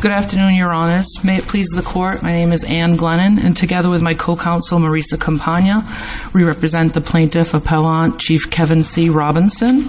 Good afternoon, your honors. May it please the court, my name is Anne Glennon and together with my co-counsel Marisa Campagna, we represent the Plaintiff Appellant Chief Kevin C. Robinson.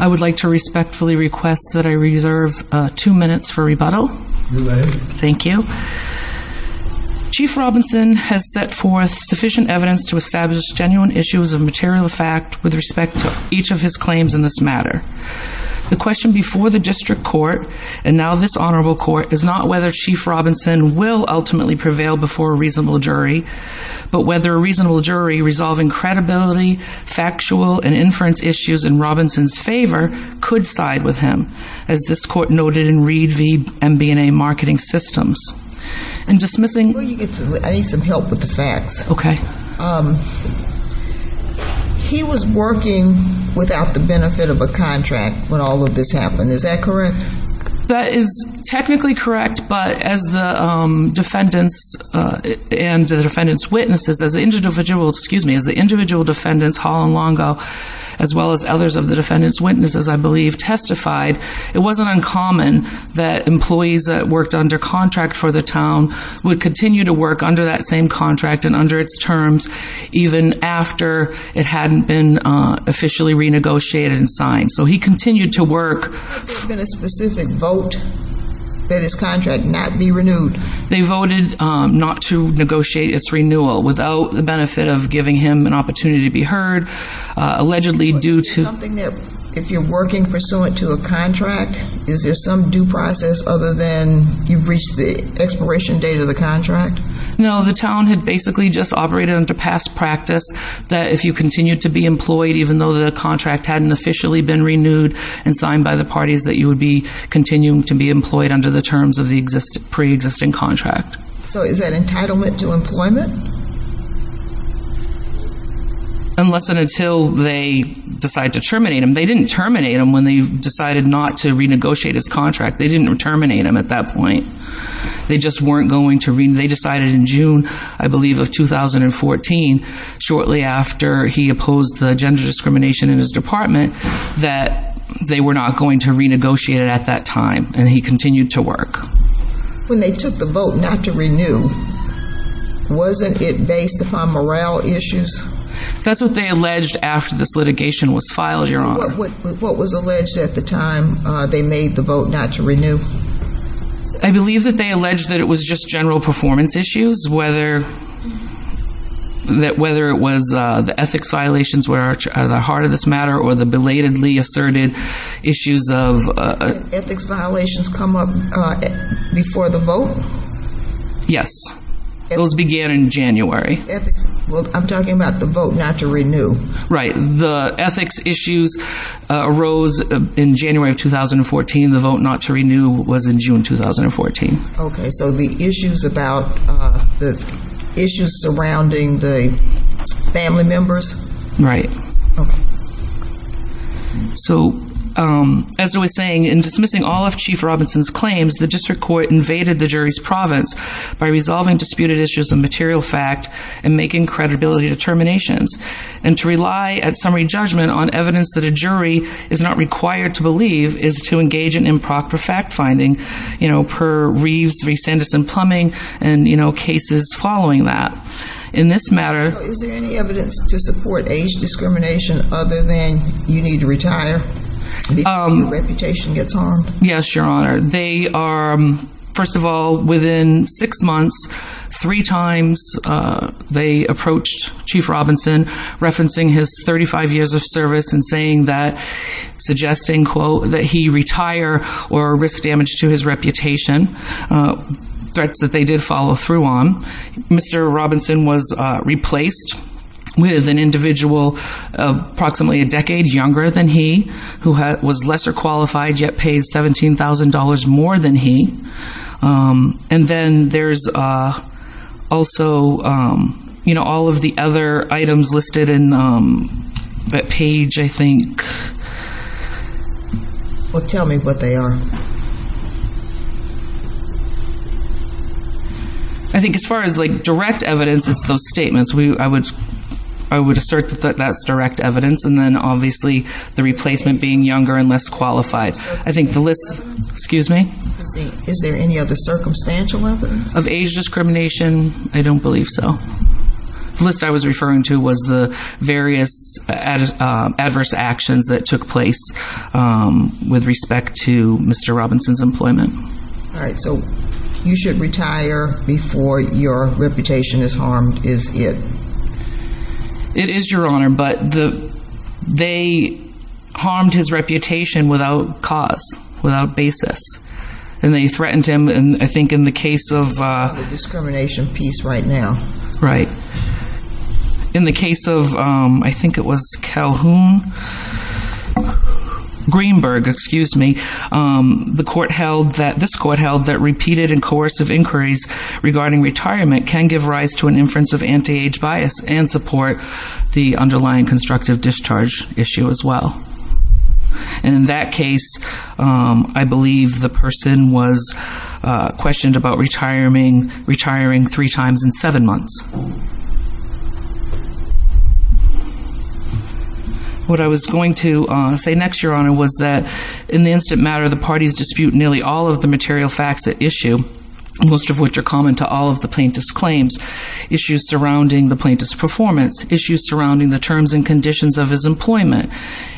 I would like to respectfully request that I reserve two minutes for rebuttal. Thank you. Chief Robinson has set forth sufficient evidence to establish genuine issues of material fact with respect to each of his claims in this matter. The question before the district court, and now this honorable court, is not whether Chief Robinson will ultimately prevail before a reasonable jury, but whether a reasonable jury resolving credibility, factual, and inference issues in Robinson's favor could side with him, as this court noted in Reed v. MBNA Marketing Systems. Before you get to that, I need some help with the facts. Okay. He was working without the benefit of a contract when all of this happened, is that correct? That is technically correct, but as the defendants and the defendants' witnesses, as the individual defendants, Hall and Longo, as well as others of the defendants' witnesses, I believe, testified, it wasn't uncommon that employees that worked under contract for the town would continue to work under that same contract and under its terms even after it hadn't been officially renegotiated and signed. So he continued to work. Has there been a specific vote that his contract not be renewed? They voted not to negotiate its renewal without the benefit of giving him an opportunity to be heard, allegedly due to... Something that, if you're working pursuant to a contract, is there some due process other than you've reached the expiration date of the contract? No, the town had basically just operated under past practice that if you continued to be employed, even though the contract hadn't officially been renewed and signed by the parties, that you would be continuing to be employed under the terms of the pre-existing contract. So is that entitlement to employment? Unless and until they decide to terminate him. They didn't terminate him when they decided not to renegotiate his contract. They didn't terminate him at that point. They just weren't going to renegotiate. They decided in June, I believe, of 2014, shortly after he opposed the gender discrimination in his department, that they were not going to renegotiate it at that time. And he continued to work. When they took the vote not to renew, wasn't it based upon morale issues? That's what they alleged after this litigation was filed, Your Honor. What was alleged at the time they made the vote not to renew? I believe that they alleged that it was just general performance issues, whether it was the ethics violations were at the heart of this matter or the belatedly asserted issues of... Did ethics violations come up before the vote? Yes. Those began in January. Well, I'm talking about the vote not to renew. Right. The ethics issues arose in January of 2014. The vote not to renew was in June 2014. Okay. So the issues surrounding the family members? Right. So, as I was saying, in dismissing all of Chief Robinson's claims, the district court invaded the jury's province by resolving disputed issues of material fact and making credibility determinations. And to rely at summary judgment on evidence that a jury is not required to believe is to engage in improper fact-finding, you know, per Reeves v. Sanderson Plumbing and, you know, cases following that. In this matter... Is there any evidence to support age discrimination other than you need to retire before your reputation gets harmed? Yes, Your Honor. They are... First of all, within six months, three times they approached Chief Robinson referencing his 35 years of service and saying that... Suggesting, quote, that he retire or risk damage to his reputation, threats that they did follow through on. Mr. Robinson was replaced with an individual approximately a decade younger than he, who was lesser qualified, yet paid $17,000 more than he. And then there's also, you know, all of the other items listed in that page, I think. Well, tell me what they are. I think as far as, like, direct evidence, it's those that's direct evidence. And then, obviously, the replacement being younger and less qualified. I think the list... Excuse me? Is there any other circumstantial evidence? Of age discrimination? I don't believe so. The list I was referring to was the various adverse actions that took place with respect to Mr. Robinson's employment. All right. So you should retire before your retirement. But they harmed his reputation without cause, without basis. And they threatened him. And I think in the case of... The discrimination piece right now. Right. In the case of, I think it was Calhoun... Greenberg, excuse me. The court held that... This court held that repeated and coercive inquiries regarding retirement can give rise to an inference of underlying constructive discharge issue as well. And in that case, I believe the person was questioned about retiring three times in seven months. What I was going to say next, Your Honor, was that in the instant matter, the parties dispute nearly all of the material facts at issue, most of which are common to all of the plaintiff's claims. Issues surrounding the plaintiff's performance. Issues surrounding the terms and conditions of his employment.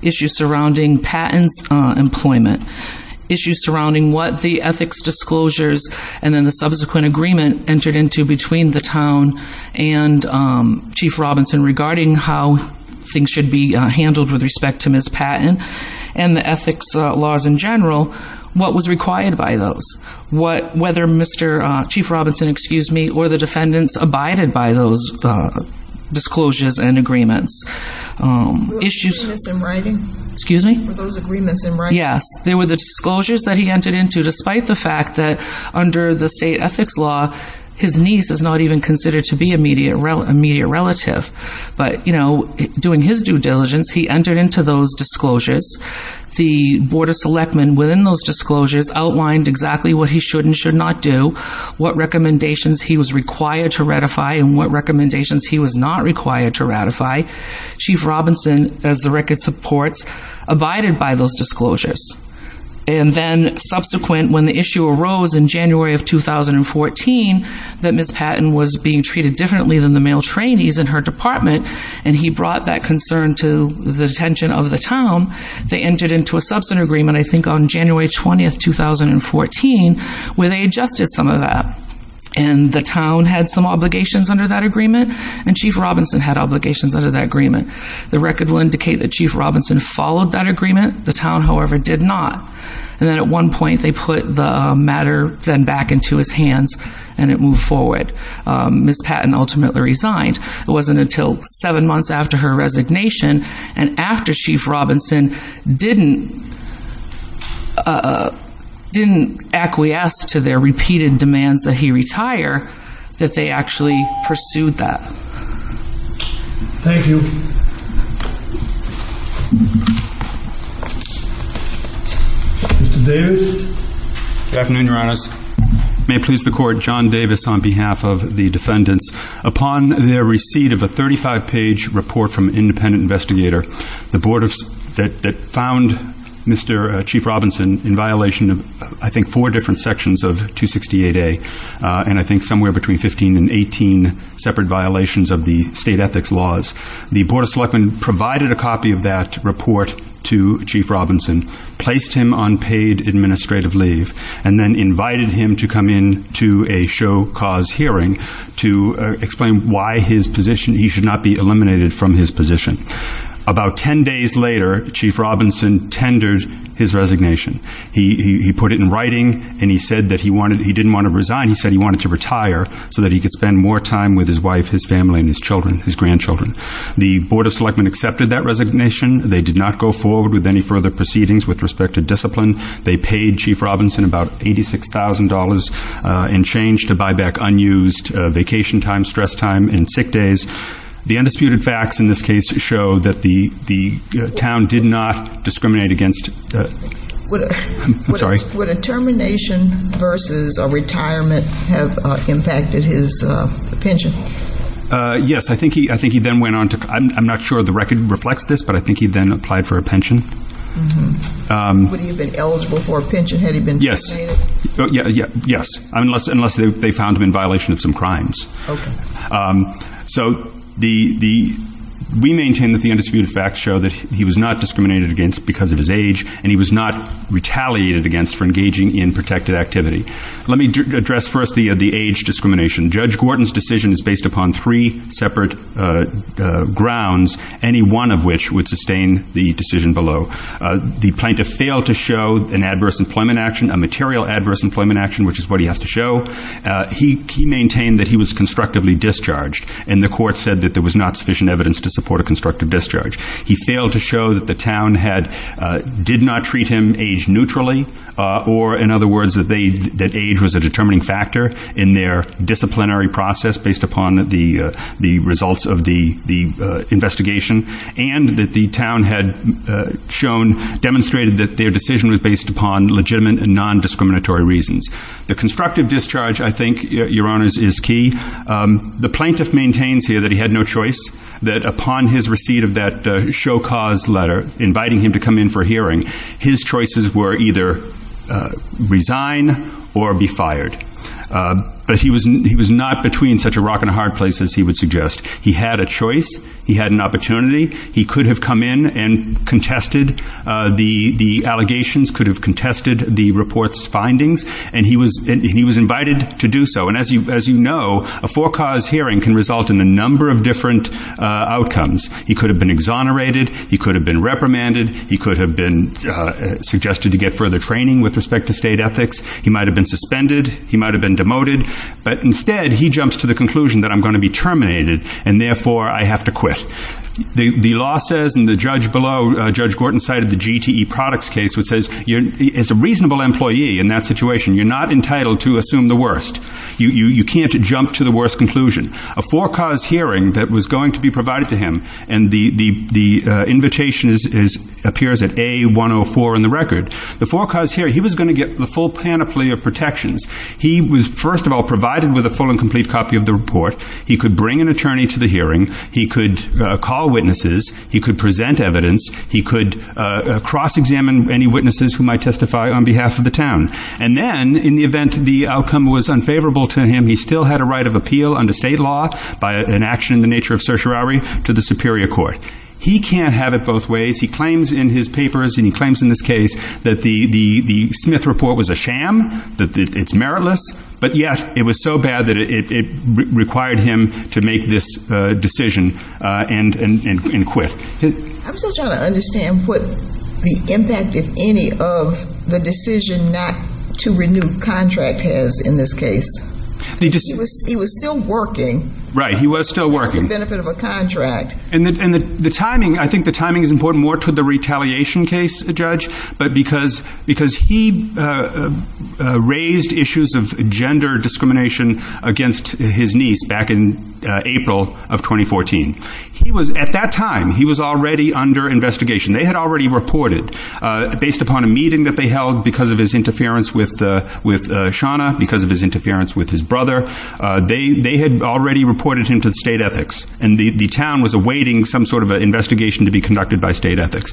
Issues surrounding Patton's employment. Issues surrounding what the ethics disclosures and then the subsequent agreement entered into between the town and Chief Robinson regarding how things should be handled with respect to Ms. Patton and the ethics laws in general. What was required by those? Whether Mr. Chief Robinson, excuse me, or the defendants abided by those disclosures and agreements. Were those agreements in writing? Yes. They were the disclosures that he entered into despite the fact that under the state ethics law, his niece is not even considered to be a media relative. But, you know, doing his due diligence, he entered into those disclosures. The Board of Selectmen within those disclosures outlined exactly what he should and should not do. What recommendations he was required to ratify and what recommendations he was not required to ratify. Chief Robinson, as the record supports, abided by those disclosures. And then subsequent, when the issue arose in January of 2014, that Ms. Patton was being treated differently than the male trainees in her department, and he brought that concern to the attention of the town, they entered into a substantive agreement, I think on January 20th, 2014, where they adjusted some of that. And the town had some obligations under that agreement. And Chief Robinson had obligations under that agreement. The record will indicate that Chief Robinson followed that agreement. The town, however, did not. And then at one point, they put the matter then back into his hands and it moved forward. Ms. Patton ultimately resigned. It wasn't until seven months after her resignation and after Chief Robinson didn't, didn't acquiesce to their repeated demands that he retire, that they actually pursued that. Thank you. Mr. Davis? Good afternoon, Your Honors. May it please the Court, John Davis on behalf of the defendants. Upon their receipt of a 35-page report from an independent investigator, the board of selectmen found Mr. Chief Robinson in violation of, I think, four different sections of 268A, and I think somewhere between 15 and 18 separate violations of the state ethics laws. The board of selectmen provided a copy of that report to Chief Robinson, placed him on paid administrative leave, and then invited him to come in to a show-cause hearing to explain why his position, he should not be eliminated from his position. About 10 days later, Chief Robinson tendered his resignation. He put it in writing and he said that he wanted, he didn't want to resign, he said he wanted to retire so that he could spend more time with his wife, his family, and his children, his grandchildren. The board of selectmen accepted that resignation. They did not go forward with any further proceedings with respect to discipline. They paid Chief Robinson about $86,000 in change to buy back unused vacation time, stress time, and sick days. The undisputed facts in this case show that the town did not discriminate against the, I'm sorry. Would a termination versus a retirement have impacted his pension? Yes, I think he then went on to, I'm not sure the record reflects this, but I think he then applied for a pension. Would he have been eligible for a pension had he been terminated? Yes, unless they found him in violation of some crimes. So we maintain that the undisputed facts show that he was not discriminated against because of his age and he was not retaliated against for engaging in protected activity. Let me address first the age discrimination. Judge Gordon's decision is based upon three separate grounds, any one of which would sustain the decision below. The plaintiff failed to show an adverse employment action, a material adverse employment action, which is what he has to show. He maintained that he was constructively discharged and the court said that there was not sufficient evidence to support a constructive discharge. He failed to show that the town did not treat him age neutrally, or in other words, that age was a determining factor in their disciplinary process based upon the results of the investigation, and that the town had shown, demonstrated that their decision was based upon legitimate and non-discriminatory reasons. The constructive discharge, I think, Your Honors, is key. The plaintiff maintains here that he had no choice, that upon his receipt of that show cause letter inviting him to come in for a hearing, his choices were either resign or be fired. But he was not between such a rock and a hard place as he would suggest. He had a choice. He had an opportunity. He could have come in and contested the allegations, could have contested the report's findings, and he was invited to do so. And as you know, a four cause hearing can result in a number of different outcomes. He could have been exonerated. He could have been reprimanded. He could have been suggested to get further training with respect to state ethics. He might have been suspended. He might have been demoted. But instead, he jumps to the conclusion that I'm going to be terminated, and therefore I have to quit. The law says, and the judge below, Judge Gorton, cited the GTE products case, which says as a reasonable employee in that situation, you're not entitled to assume the worst. You can't jump to the worst conclusion. A four cause hearing that was going to be provided to him, and the invitation appears at A104 in the record, the four cause hearing, was first of all provided with a full and complete copy of the report. He could bring an attorney to the hearing. He could call witnesses. He could present evidence. He could cross-examine any witnesses who might testify on behalf of the town. And then, in the event the outcome was unfavorable to him, he still had a right of appeal under state law by an action in the nature of certiorari to the superior court. He can't have it both ways. He claims in his papers, and he claims in this case, that the Smith report was a failure, but yet it was so bad that it required him to make this decision and quit. I'm still trying to understand what the impact, if any, of the decision not to renew contract has in this case. He was still working. Right. He was still working. For the benefit of a contract. And the timing, I think the timing is important more to the retaliation case, Judge, but because he raised issues of gender discrimination against his niece back in April of 2014. He was, at that time, he was already under investigation. They had already reported, based upon a meeting that they held because of his interference with Shauna, because of his interference with his brother, they had already reported him to state ethics. And the town was awaiting some sort of investigation to be conducted by state ethics.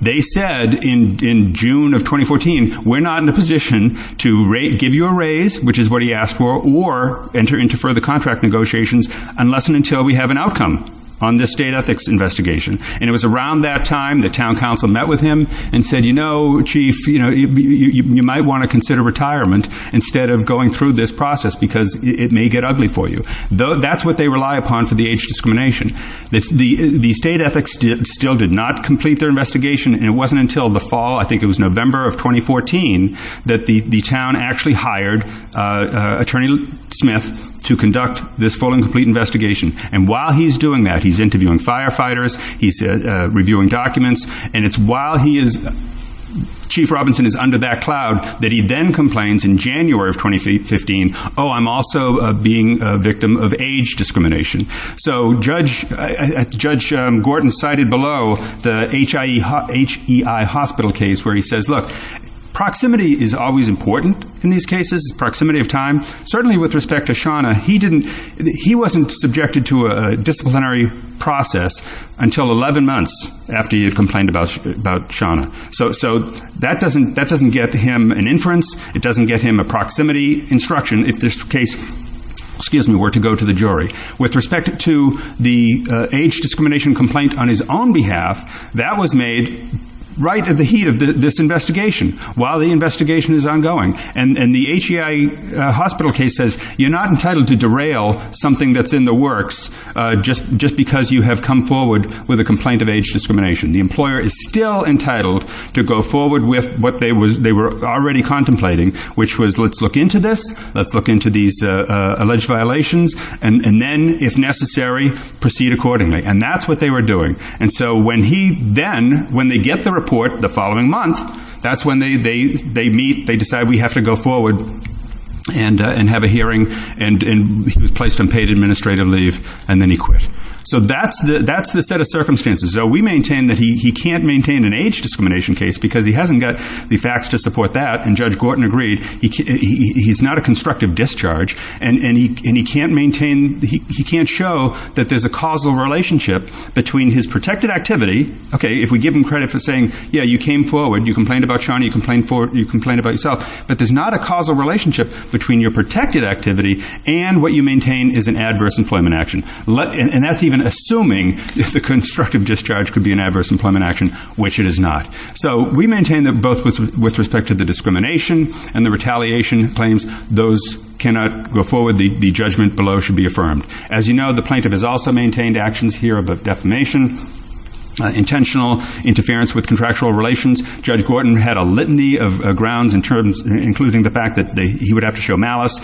They said in June of 2014, we're not in a position to give you a raise, which is what he asked for, or enter into further contract negotiations unless and until we have an outcome on this state ethics investigation. And it was around that time the town council met with him and said, you know, chief, you know, you might want to consider retirement instead of going through this process because it may get ugly for you. That's what they rely upon for the age discrimination. The state ethics still did not complete their investigation, and it wasn't until the fall, I think it was November of 2014, that the town actually hired Attorney Smith to conduct this full and complete investigation. And while he's doing that, he's interviewing firefighters, he's reviewing documents, and it's while he is, Chief Robinson is under that cloud, that he then complains in January of the age discrimination. So Judge Gordon cited below the HEI hospital case where he says, look, proximity is always important in these cases, proximity of time. Certainly with respect to Shauna, he wasn't subjected to a disciplinary process until 11 months after he had complained about Shauna. So that doesn't get him an inference, it doesn't get him a proximity instruction if this case were to go to the jury. With respect to the age discrimination complaint on his own behalf, that was made right at the heat of this investigation while the investigation is ongoing. And the HEI hospital case says you're not entitled to derail something that's in the works just because you have come forward with a complaint of age discrimination. The employer is still entitled to go forward with what they were already contemplating, which was let's look into this, let's look into these issues, and then, if necessary, proceed accordingly. And that's what they were doing. And so when he then, when they get the report the following month, that's when they meet, they decide we have to go forward and have a hearing, and he was placed on paid administrative leave, and then he quit. So that's the set of circumstances. So we maintain that he can't maintain an age discrimination case because he hasn't got the facts to support that, and Judge Gordon agreed, he's not a constructive discharge, and he can't maintain, he can't show that there's a causal relationship between his protected activity, okay, if we give him credit for saying, yeah, you came forward, you complained about Shawnee, you complained about yourself, but there's not a causal relationship between your protected activity and what you maintain is an adverse employment action. And that's even assuming the constructive discharge could be an adverse employment action, which it is not. So we maintain that both with respect to the judgment below should be affirmed. As you know, the plaintiff has also maintained actions here of defamation, intentional interference with contractual relations. Judge Gordon had a litany of grounds and terms, including the fact that he would have to show malice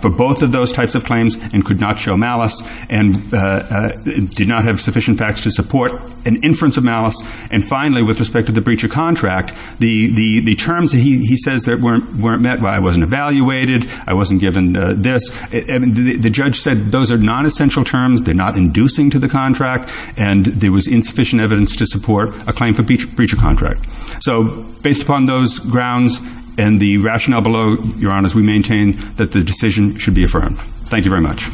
for both of those types of claims and could not show malice and did not have sufficient facts to support an inference of malice. And finally, with respect to the breach of contract, the judge said those are nonessential terms, they're not inducing to the contract, and there was insufficient evidence to support a claim for breach of contract. So based upon those grounds and the rationale below, Your Honors, we maintain that the decision should be affirmed. Thank you very much.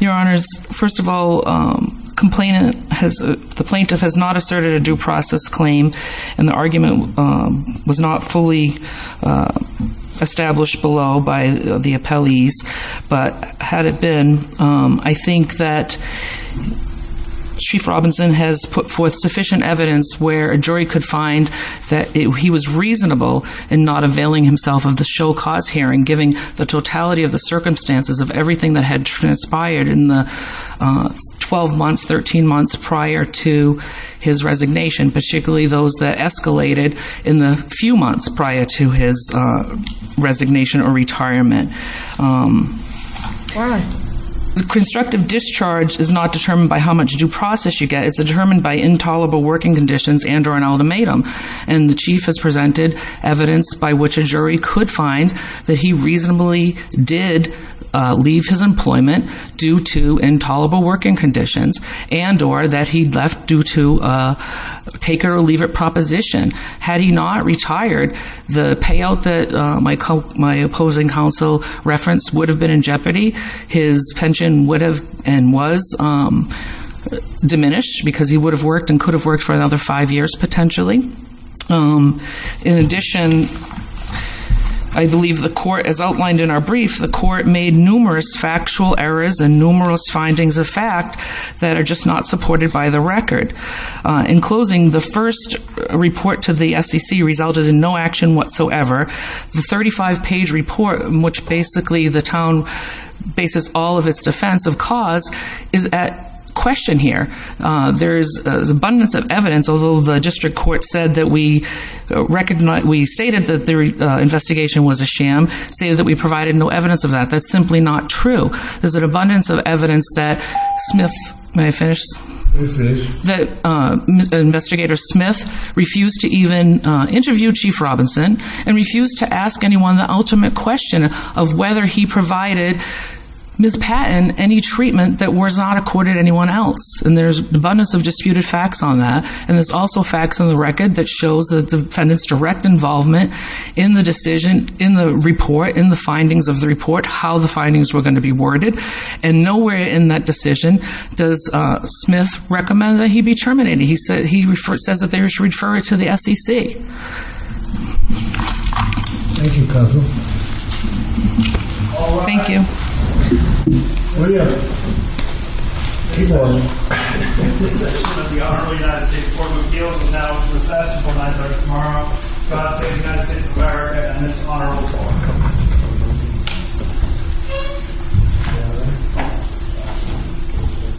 Your Honors, first of all, complainant has, the plaintiff has not asserted a claim, and the argument was not fully established below by the appellees, but had it been, I think that Chief Robinson has put forth sufficient evidence where a jury could find that he was reasonable in not availing himself of the show cause hearing, given the totality of the circumstances of everything that had transpired in the 12 months, 13 months prior to his resignation, particularly those that escalated in the few months prior to his resignation or retirement. Constructive discharge is not determined by how much due process you get, it's determined by intolerable working conditions and or an ultimatum. And the plaintiff's pension would have been diminished because he would have worked and could have worked for another five years, potentially. In addition, I believe the court, as outlined in our brief, the court made numerous factual errors and numerous findings of fact that are just not supported by the record. In closing, the first report to the SEC resulted in no action whatsoever. The 35-page report, which basically the town bases all of its defense of cause, is at question here. There is abundance of evidence, although the district court said that we recognized, we stated that the investigation was a sham, stated that we provided no evidence of that, that's simply not true. There's an abundance of evidence that Smith, may I finish? May I finish? That investigator Smith refused to even interview Chief Robinson and refused to ask anyone the ultimate question of whether he provided Ms. Patton any treatment that was not accorded anyone else. And there's abundance of disputed facts on that. And there's also facts on the findings of the report, how the findings were going to be worded. And nowhere in that decision does Smith recommend that he be terminated. He says that they should refer it to the SEC. Thank you. Thank you. Thank you. Thank you. Thank you.